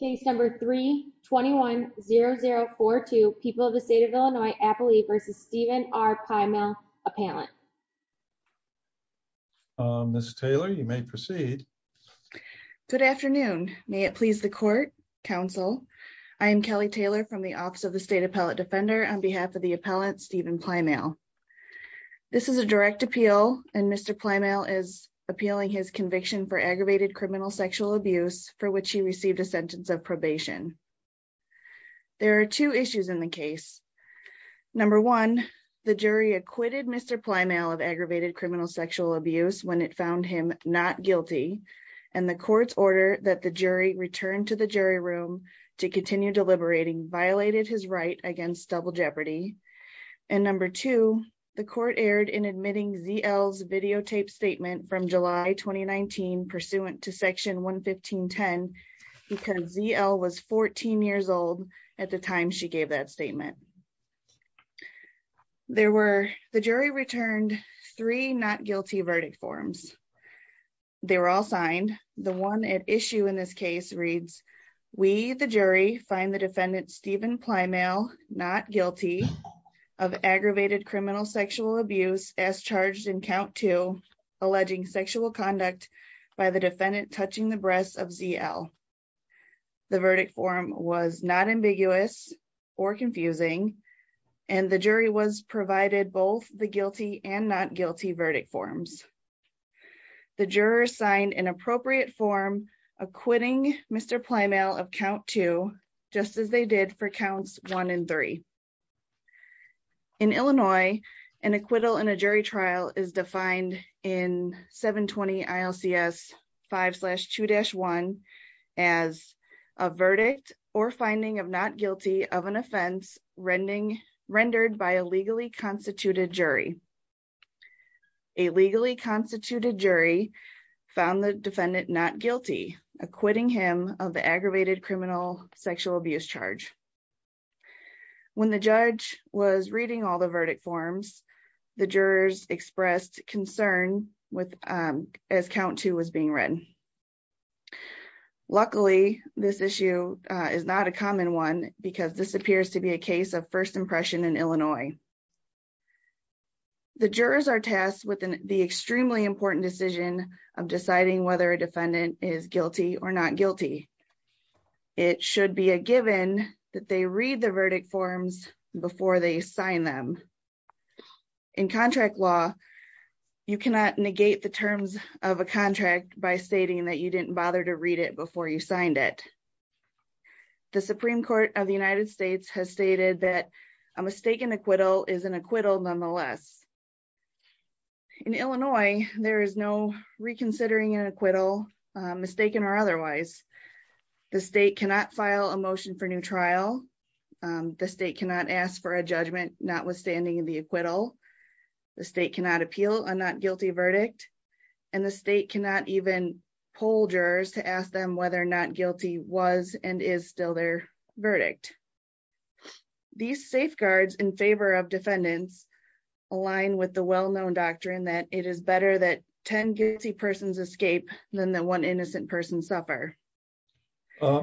Case number 3-21-0042, People of the State of Illinois, Appley v. Stephen R. Plymale, Appellant. Ms. Taylor, you may proceed. Good afternoon. May it please the Court, Counsel. I am Kelly Taylor from the Office of the State Appellate Defender on behalf of the Appellant, Stephen Plymale. This is a direct appeal and Mr. There are two issues in the case. Number one, the jury acquitted Mr. Plymale of aggravated criminal sexual abuse when it found him not guilty, and the Court's order that the jury return to the jury room to continue deliberating violated his right against double jeopardy. And number two, the Court erred in admitting ZL's videotaped statement from July 2019 pursuant to Section 11510 because ZL was 14 years old at the time she gave that statement. There were, the jury returned three not guilty verdict forms. They were all signed. The one at issue in this case reads, We, the jury, find the defendant Stephen Plymale not guilty of aggravated criminal sexual abuse as charged in count two alleging sexual conduct by the defendant touching the breasts of ZL. The verdict form was not ambiguous or confusing and the jury was provided both the guilty and not guilty verdict forms. The juror signed an appropriate form acquitting Mr. Plymale of count two, just as they did for counts one and three. In Illinois, an acquittal in a jury trial is defined in 720 ILCS 5-2-1 as a verdict or finding of not guilty of an offense rendered by a legally constituted jury. A legally constituted jury found the defendant not guilty, acquitting him of the aggravated criminal sexual abuse charge. When the judge was reading all the verdict forms, the jurors expressed concern with, as count two was being written. Luckily, this issue is not a common one because this appears to be a case of first impression in Illinois. The jurors are tasked with the extremely important decision of deciding whether a defendant is guilty or not guilty. It should be a given that they read the verdict forms before they sign them. In contract law, you cannot negate the terms of a contract by stating that you didn't bother to read it before you signed it. The Supreme Court of the United States has stated that a mistaken acquittal is an acquittal nonetheless. In Illinois, there is no reconsidering an acquittal, mistaken or otherwise. The state cannot file a motion for new trial. The state cannot ask for a judgment notwithstanding the acquittal. The state cannot appeal a not guilty verdict and the state cannot even poll jurors to ask them whether not guilty was and is still their verdict. These safeguards in favor of defendants align with the well-known doctrine that it is better that 10 guilty persons escape than the one innocent person suffer.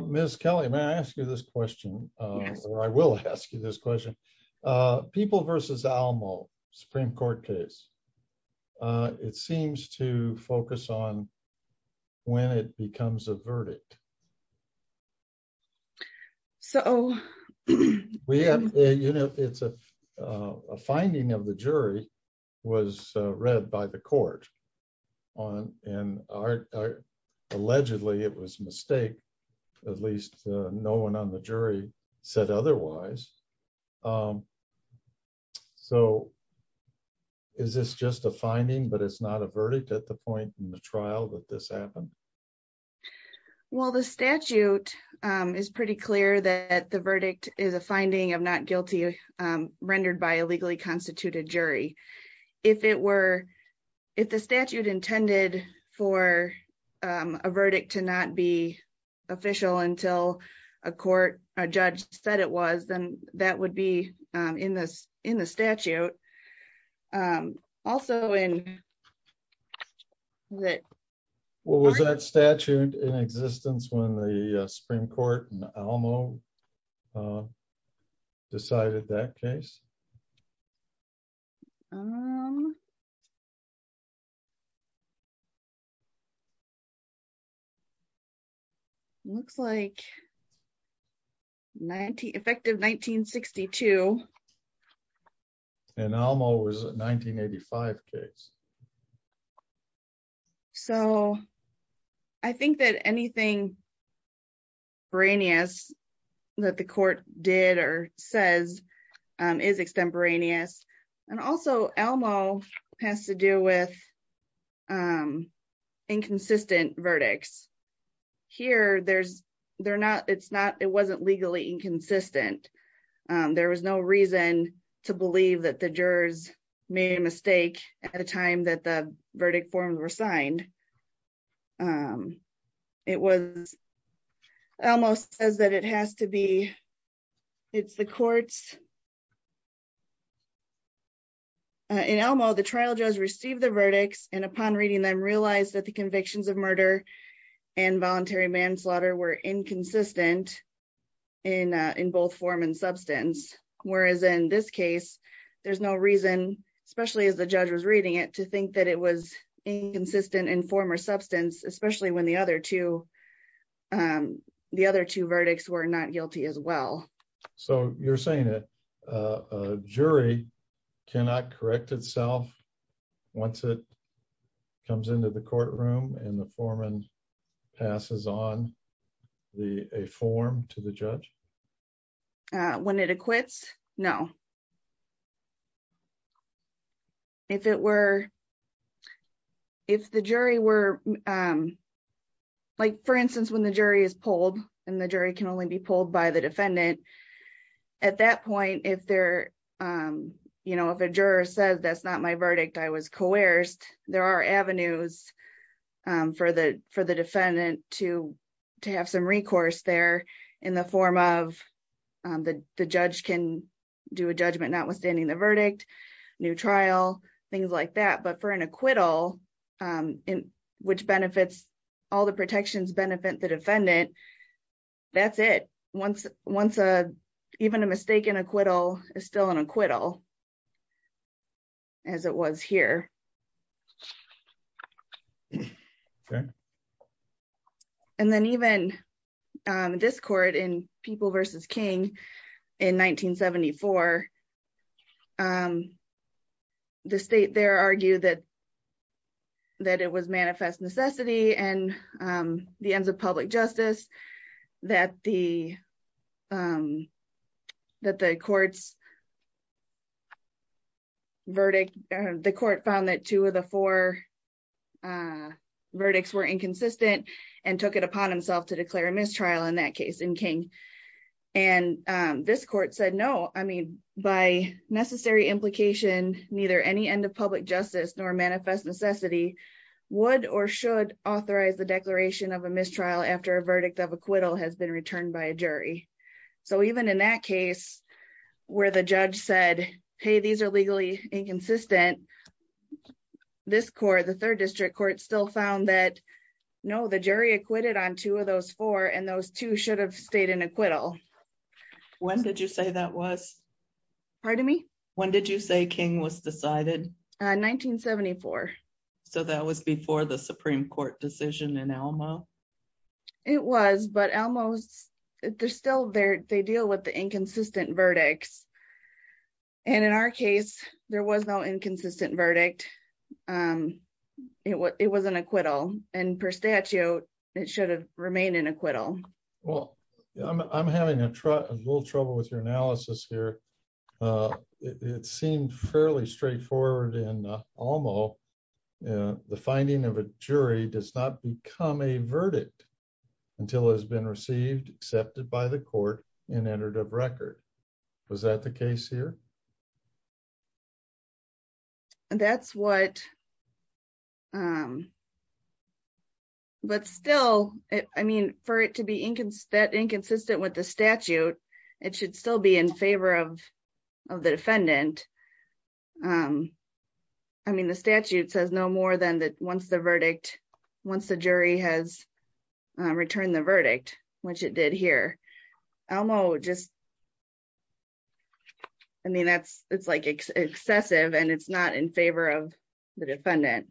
Ms. Kelly, may I ask you this question, or I will ask you this question. People versus Alamo, Supreme Court case. It seems to focus on when it becomes a verdict. So we have, you know, it's a finding of the jury was read by the court. And allegedly it was a mistake, at least no one on the jury said otherwise. So is this just a finding, but it's not a verdict at the point in the trial that this happened? Well, the statute is pretty clear that the verdict is a finding of not guilty rendered by a legally constituted jury. If it were, if the statute intended for a verdict to not be official until a court, a judge said it was, then that would be in this in the statute. Also in that. What was that statute in existence when the Supreme Court and Alamo decided that case? Um. Looks like 90 effective 1962. And Alamo was 1985 case. So I think that anything. Brainius that the court did or says is extemporaneous and also Alamo has to do with. Inconsistent verdicts here. There's they're not it's not it wasn't legally inconsistent. There was no reason to believe that the jurors made a mistake at a time that the verdict forms were signed. Um, it was almost says that it has to be. It's the courts. In Alamo, the trial judge received the verdicts and upon reading them realized that the convictions of murder and voluntary manslaughter were inconsistent. In in both form and substance, whereas in this case, there's no reason, especially as the judge was reading it to think that it was inconsistent in former substance, especially when the other two. The other two verdicts were not guilty as well. So you're saying that jury cannot correct itself once it comes into the courtroom and the foreman passes on the a form to the judge. When it acquits no. If it were. If the jury were. Um. Like, for instance, when the jury is pulled, and the jury can only be pulled by the defendant at that point, if they're, you know, if a juror says that's not my verdict, I was coerced. There are avenues for the for the defendant to to have some recourse there in the form of the judge can do a judgment notwithstanding the verdict new trial things like that. But for an acquittal, which benefits all the protections benefit the defendant. That's it. Once once a, even a mistaken acquittal is still an acquittal. As it was here. And then even discord in people versus King in 1974. The state there argue that that it was manifest necessity and the ends of public justice that the that the court's verdict, the court found that two of the four verdicts were inconsistent and took it upon himself to declare a mistrial in that case in King, and this court said, no, I mean, by necessary implication, neither any end of public justice nor manifest necessity would or should authorize the declaration of a mistrial after a verdict of acquittal has been returned by a jury. So even in that case, where the judge said, hey, these are legally inconsistent. This core the third district court still found that know the jury acquitted on two of those four and those two should have stayed in acquittal. When did you say that was part of me? When did you say King was decided 1974? So, that was before the Supreme Court decision and Elmo. It was, but almost there's still there. They deal with the inconsistent verdicts. And in our case, there was no inconsistent verdict. It was an acquittal and per statute. It should have remained in acquittal. Well, I'm having a little trouble with your analysis here. It seemed fairly straightforward and almost the finding of a jury does not become a verdict until it has been received, accepted by the court and entered a record. Was that the case here? That's what? Um, but still, I mean, for it to be inconsistent, inconsistent with the statute, it should still be in favor of the defendant. I mean, the statute says no more than that. Once the verdict, once the jury has returned the verdict, which it did here, Elmo just. I mean, that's it's like excessive and it's not in favor of the defendant.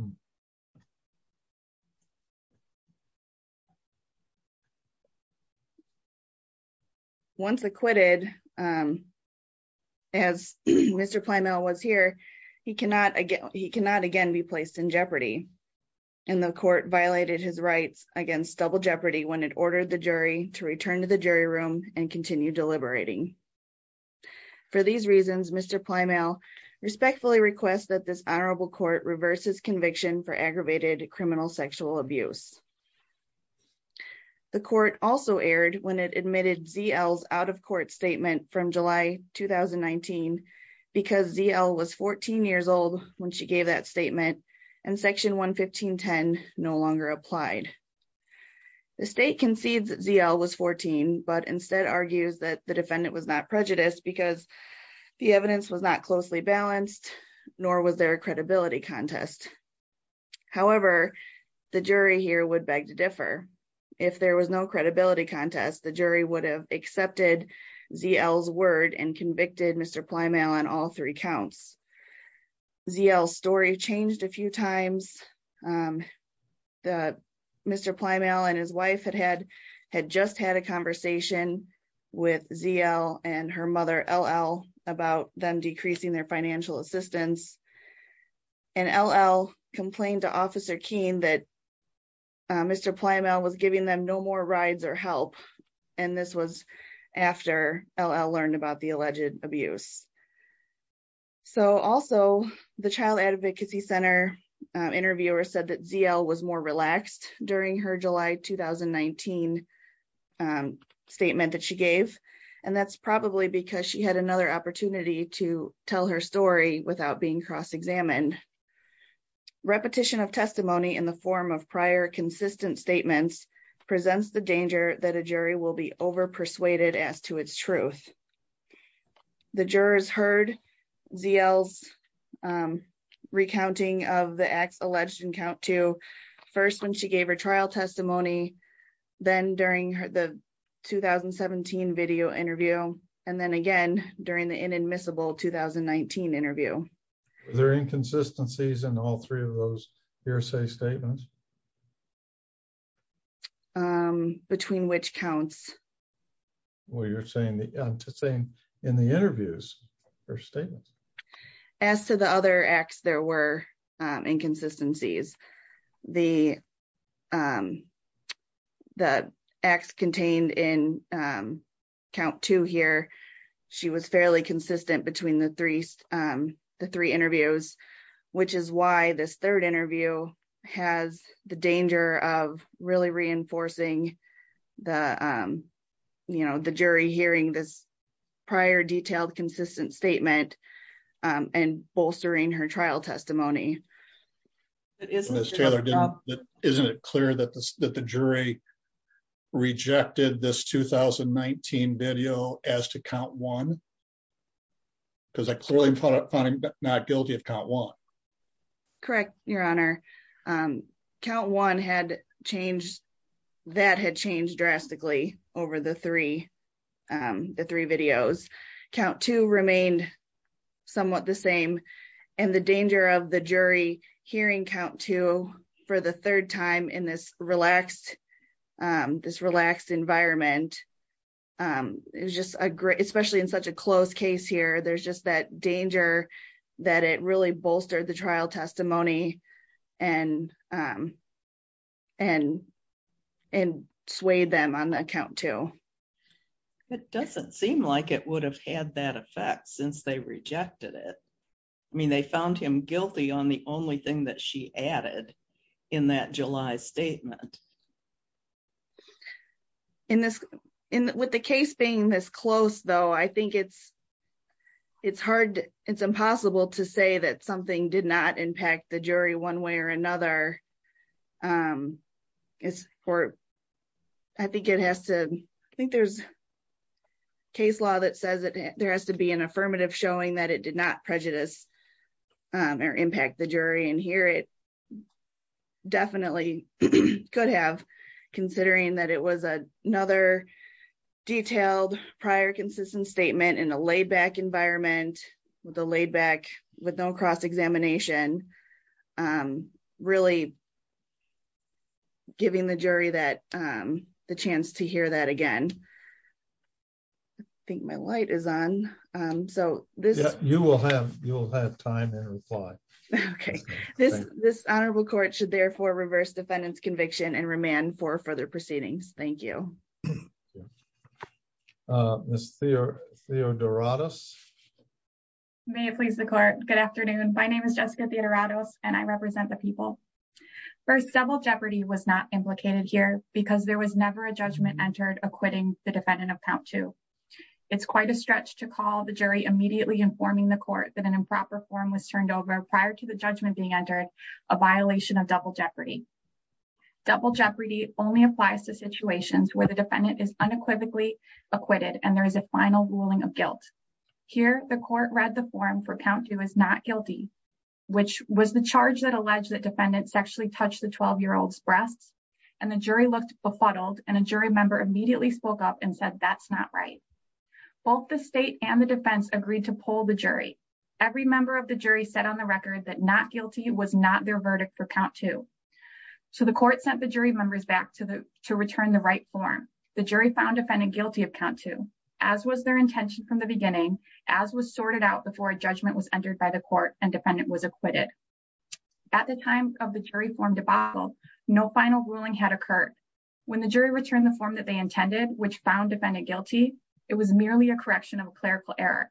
Mm hmm. Once acquitted, um. As Mr. Playmail was here, he cannot he cannot again be placed in jeopardy. And the court violated his rights against double jeopardy when it ordered the jury to return to the jury room and continue deliberating. For these reasons, Mr. Playmail respectfully request that this honorable court reverses conviction for aggravated criminal sexual abuse. The court also aired when it admitted ZL's out of court statement from July 2019 because ZL was 14 years old when she gave that statement and section 115 10 no longer applied. The state concedes ZL was 14, but instead argues that the defendant was not prejudiced because the evidence was not closely balanced, nor was there a credibility contest. However, the jury here would beg to differ. If there was no credibility contest, the jury would have accepted ZL's word and convicted Mr. Playmail on all three counts. ZL's story changed a few times. Um, the Mr. Playmail and his wife had had had just had a conversation with ZL and her mother LL about them decreasing their financial assistance. And LL complained to officer keen that Mr. Playmail was giving them no more rides or help. And this was after LL learned about the alleged abuse. So also the child advocacy center interviewer said that ZL was more relaxed during her July 2019 statement that she gave and that's probably because she had another opportunity to tell her story without being cross examined. Repetition of testimony in the form of prior consistent statements presents the danger that a jury will be over persuaded as to its truth. The jurors heard ZL's recounting of the acts alleged in count to first when she gave her trial testimony, then during the 2017 video interview, and then again during the inadmissible 2019 interview. There are inconsistencies in all three of those hearsay statements. Between which counts. Well, you're saying the same in the interviews or statements. As to the other acts, there were inconsistencies. The, um, the acts contained in count to here. She was fairly consistent between the three, um, the three interviews, which is why this third interview has the danger of really reinforcing the, um, you know, the jury hearing this prior detailed consistent statement, um, and bolstering her trial testimony. Isn't it clear that the, that the jury rejected this 2019 video as to count one. Because I clearly found it funny, but not guilty of count one. Correct. Your honor. Um, count one had changed. That had changed drastically over the three. The three videos count to remained. Somewhat the same and the danger of the jury hearing count to for the third time in this relaxed, um, this relaxed environment. Um, it was just a great, especially in such a close case here. There's just that danger that it really bolstered the trial testimony and, um. And and swayed them on account to. It doesn't seem like it would have had that effect since they rejected it. I mean, they found him guilty on the only thing that she added in that July statement. In this, in with the case being this close though, I think it's, it's hard. It's impossible to say that something did not impact the jury one way or another. Um, it's for, I think it has to, I think there's case law that says that there has to be an affirmative showing that it did not prejudice. Um, or impact the jury in here. It definitely could have considering that it was a, another detailed prior consistent statement in a laid back environment with the laid back with no cross examination. Um, really giving the jury that, um, the chance to hear that again, I think my light is on. Um, so this, you will have, you will have time and reply. Okay. This, this honorable court should therefore reverse defendant's conviction and remand for further proceedings. Thank you. Ms. Theo, Theo Dorados. May it please the court. Good afternoon. My name is Jessica Theodorados and I represent the people. First, double jeopardy was not implicated here because there was never a judgment entered acquitting the defendant of count two. It's quite a stretch to call the jury immediately informing the court that an improper form was turned over prior to the judgment being entered a violation of double jeopardy. Double jeopardy only applies to situations where the defendant is unequivocally acquitted and there is a final ruling of guilt. Here, the court read the form for count two is not guilty, which was the charge that alleged that defendant sexually touched the 12 year old's breasts and the jury looked befuddled and a jury member immediately spoke up and said, that's not right. Both the state and the defense agreed to pull the jury. Every member of the jury said on the record that not guilty was not their verdict for count two. So the court sent the jury members back to the, to return the right form. The jury found defendant guilty of count two, as was their intention from the beginning, as was sorted out before a judgment was entered by the court and defendant was acquitted. At the time of the jury form debacle, no final ruling had occurred. When the jury returned the form that they intended, which found defendant guilty, it was merely a correction of clerical error.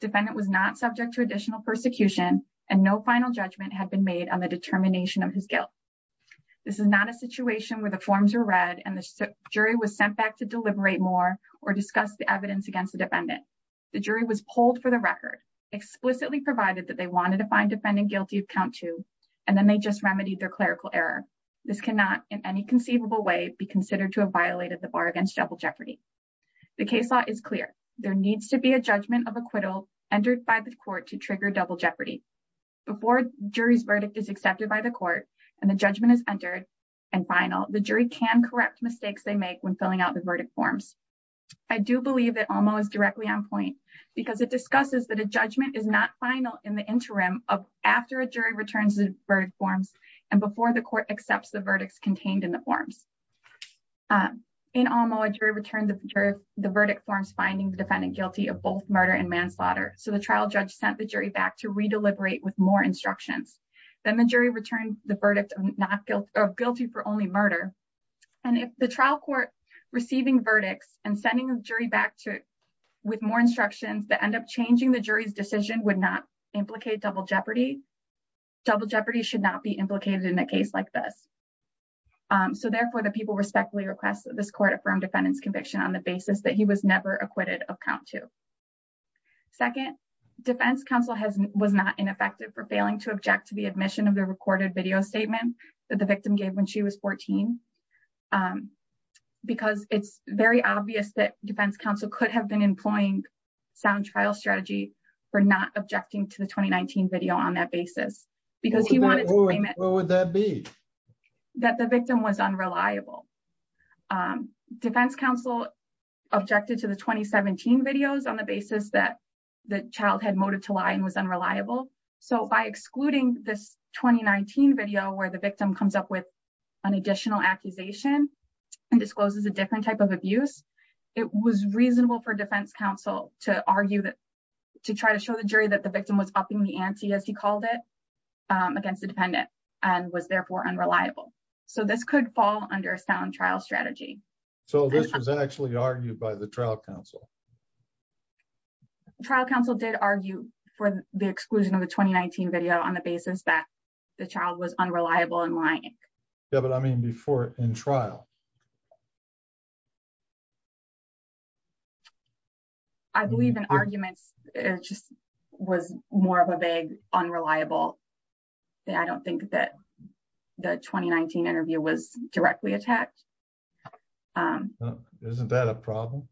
Defendant was not subject to additional persecution and no final judgment had been made on the determination of his guilt. This is not a situation where the forms are read and the jury was sent back to deliberate more or discuss the evidence against the defendant. The jury was pulled for the record, explicitly provided that they wanted to find defendant guilty of count two, and then they just remedied their clerical error. This cannot in any conceivable way be considered to have violated the bar against double jeopardy. The case law is clear, there needs to be a judgment of acquittal entered by the court to trigger double jeopardy. Before jury's verdict is accepted by the court and the judgment is entered and final, the jury can correct mistakes they make when filling out the verdict forms. I do believe that Alma is directly on point because it discusses that a judgment is not final in the interim of after a jury returns the verdict forms and before the court accepts the verdicts contained in the forms. In Alma, a jury returned the verdict forms finding the defendant guilty of both murder and manslaughter, so the trial judge sent the jury back to re-deliberate with more instructions. Then the jury returned the verdict of guilty for only murder, and if the trial court receiving verdicts and sending the jury back to with more instructions that end up changing the jury's decision would not implicate double jeopardy, double jeopardy should not be implicated in a case like this. So, therefore, the people respectfully request that this court affirm defendant's conviction on the basis that he was never acquitted of count two. Second, defense counsel has was not ineffective for failing to object to the admission of the recorded video statement that the victim gave when she was 14. Because it's very obvious that defense counsel could have been employing sound trial strategy for not objecting to the 2019 video on that basis, because he wanted. What would that be? That the victim was unreliable. Defense counsel objected to the 2017 videos on the basis that the child had motive to lie and was unreliable, so by excluding this 2019 video where the victim comes up with an additional accusation and discloses a different type of abuse, it was reasonable for defense counsel to argue that to try to show the jury that the victim was upping the ante, as he called it, against the defendant and was therefore unreliable. So this could fall under a sound trial strategy. So this was actually argued by the trial counsel. Trial counsel did argue for the exclusion of the 2019 video on the basis that the child was unreliable and lying. Yeah, but I mean before in trial. I believe in arguments, it just was more of a vague unreliable that I don't think that the 2019 interview was directly attacked. Isn't that a problem?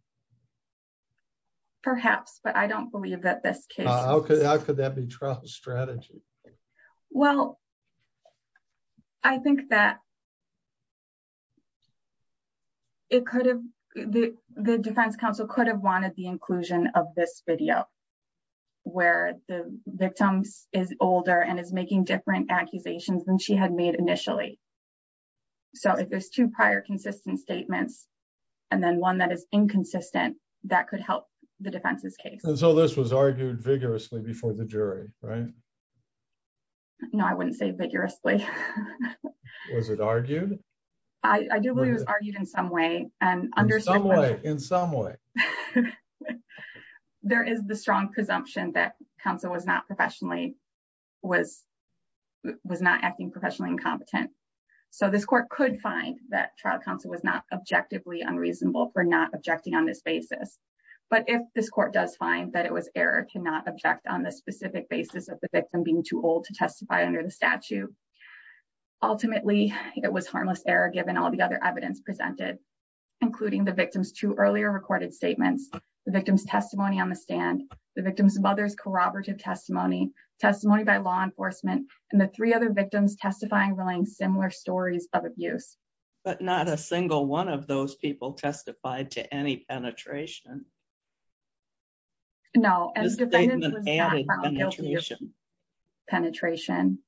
Perhaps, but I don't believe that this case. Okay. How could that be trial strategy? Well, I think that it could have the defense counsel could have wanted the inclusion of this video. Where the victims is older and is making different accusations than she had made initially. So if there's two prior consistent statements and then one that is inconsistent that could help the defense's case. So this was argued vigorously before the jury, right? No, I wouldn't say vigorously. Was it argued? I do believe it was argued in some way and understood in some way. There is the strong presumption that counsel was not professionally was was not acting professionally incompetent. So this court could find that trial counsel was not objectively unreasonable for not objecting on this basis. But if this court does find that it was error cannot object on the specific basis of the victim being too old to testify under the statue. Ultimately, it was harmless error given all the other evidence presented including the victims to earlier recorded statements the victim's testimony on the stand the victim's mother's corroborative testimony testimony by law enforcement and the three other victims testifying relying similar stories of abuse. But not a single one of those people testified to any penetration. No, and the defendant was not found guilty of penetration.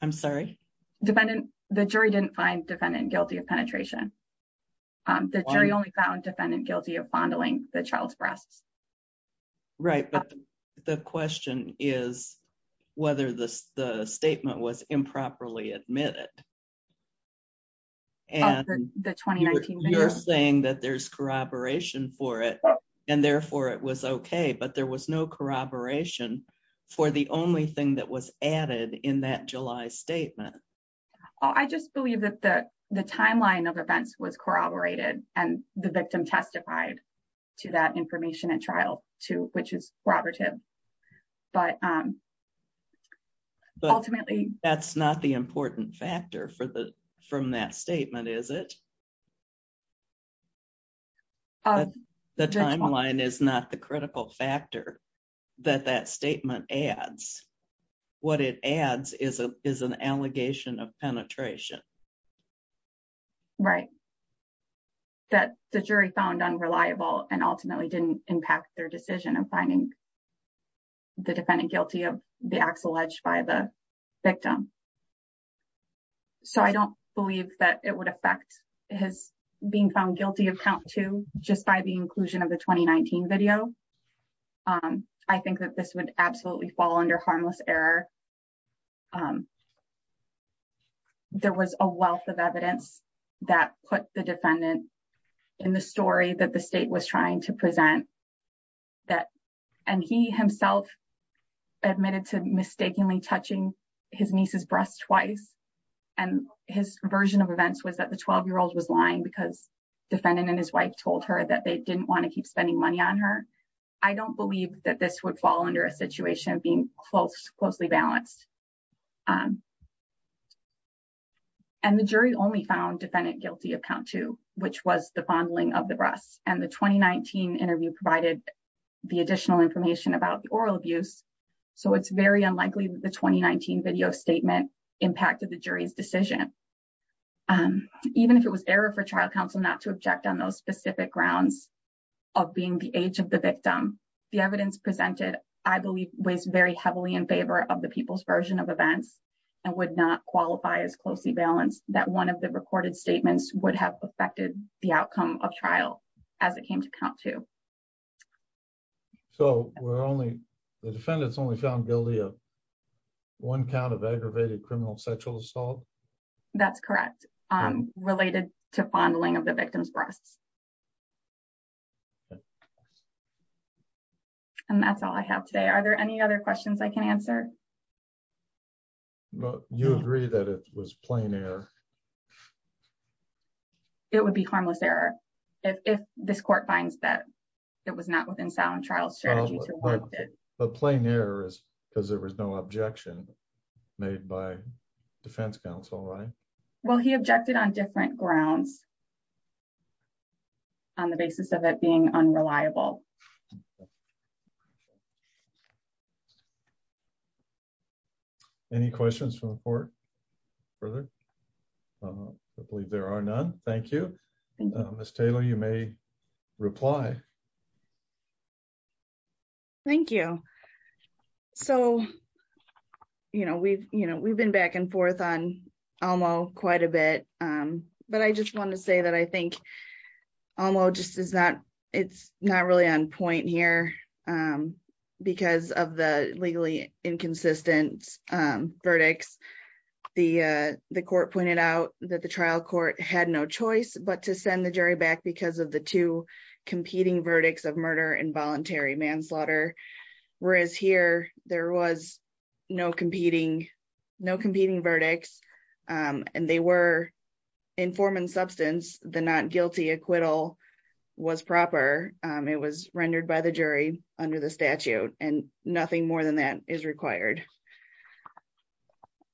I'm sorry? Defendant the jury didn't find defendant guilty of penetration. The jury only found defendant guilty of fondling the child's breasts. Right, but the question is whether this the statement was improperly admitted. And the 2019 you're saying that there's corroboration for it and therefore it was okay, but there was no corroboration for the only thing that was added in that July statement. I just believe that the the timeline of events was corroborated and the victim testified to that information and trial to which is Robert him but ultimately, that's not the important factor for the from that statement. Is it? The timeline is not the critical factor that that statement adds what it adds is a is an allegation of penetration. Right? That the jury found unreliable and ultimately didn't impact their decision of finding. The defendant guilty of the axle edge by the victim. So, I don't believe that it would affect his being found guilty of count to just by the inclusion of the 2019 video. I think that this would absolutely fall under harmless error. Um, there was a wealth of evidence that put the defendant in the story that the state was trying to present that and he himself admitted to mistakenly touching his nieces breast twice. And his version of events was that the 12 year old was lying because defendant and his wife told her that they didn't want to keep spending money on her. I don't believe that this would fall under a situation being close closely balanced. And the jury only found defendant guilty of count to which was the fondling of the breasts and the 2019 interview provided the additional information about the oral abuse. So it's very unlikely that the 2019 video statement impacted the jury's decision. Um, even if it was error for trial counsel, not to object on those specific grounds of being the age of the victim. The evidence presented, I believe, was very heavily in favor of the people's version of events and would not qualify as closely balanced that one of the recorded statements would have affected the outcome of trial as it came to count to. So we're only the defendants only found guilty of one count of aggravated criminal sexual assault. That's correct. Um, related to fondling of the victim's breasts. And that's all I have today. Are there any other questions I can answer? You agree that it was plain air. It would be harmless error. If this court finds that it was not within sound trial strategy. The plain air is because there was no objection made by defense counsel. Right. Well, he objected on different grounds. On the basis of it being unreliable. Any questions from the court further? Um, I believe there are none. Thank you. Ms. Taylor, you may reply. Thank you. So, you know, we've, you know, we've been back and forth on almost quite a bit. Um, but I just want to say that I think almost just is that it's not really on point here because of the legally inconsistent verdicts. The, uh, the court pointed out that the trial court had no choice, but to send the jury back because of the two competing verdicts of murder and voluntary manslaughter. Whereas here there was no competing, no competing verdicts. Um, and they were informant substance. The not guilty acquittal was proper. Um, it was rendered by the jury under the statute and nothing more than that is required.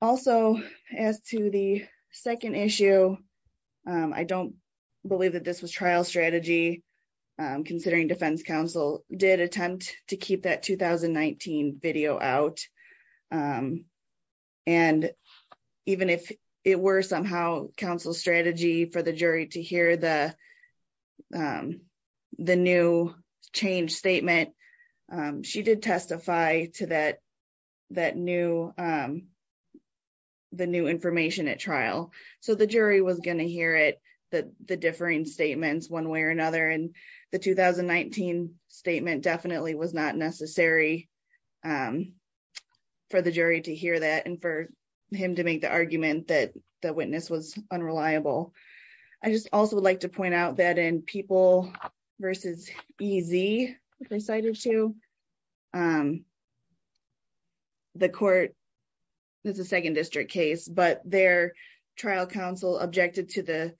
Also, as to the 2nd issue, um, I don't believe that this was trial strategy, um, considering defense counsel did attempt to keep that 2019 video out. Um, and even if it were somehow counsel strategy for the jury to hear the, um, the new change statement, um, she did testify to that. That new, um, the new information at trial, so the jury was going to hear it, the, the differing statements 1 way or another, and the 2019 statement definitely was not necessary. For the jury to hear that, and for him to make the argument that the witness was unreliable, I just also would like to point out that in people versus easy decided to. The court is the 2nd district case, but their trial counsel objected to the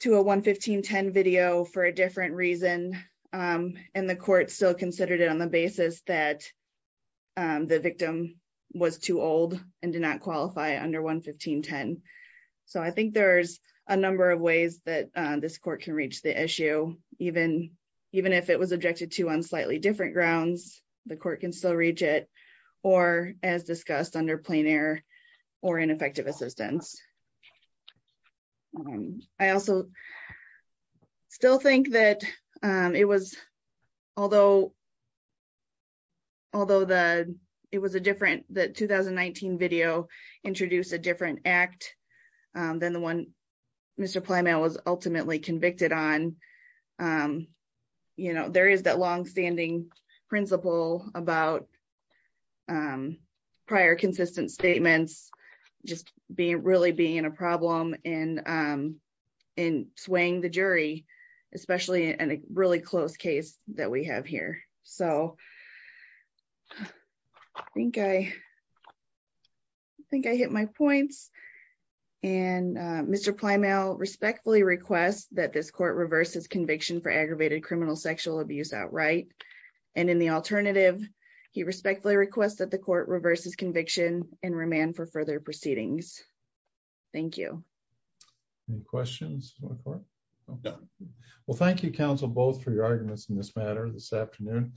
to a 1, 1510 video for a different reason. Um, and the court still considered it on the basis that. Um, the victim was too old and did not qualify under 1, 1510. so I think there's a number of ways that this court can reach the issue, even even if it was objected to on slightly different grounds, the court can still reach it. Or, as discussed under plain air or ineffective assistance, I also still think that, um, it was, although. Although the, it was a different that 2019 video introduced a different act than the 1, Mr. Um, prior consistent statements, just being really being in a problem and, um. And swaying the jury, especially in a really close case that we have here. So. Okay, I think I hit my points. And, uh, Mr. Plymouth respectfully request that this court reverses conviction for aggravated criminal sexual abuse outright. And in the alternative, he respectfully request that the court reverses conviction and remand for further proceedings. Thank you any questions. Okay. Well, thank you counsel both for your arguments in this matter this afternoon.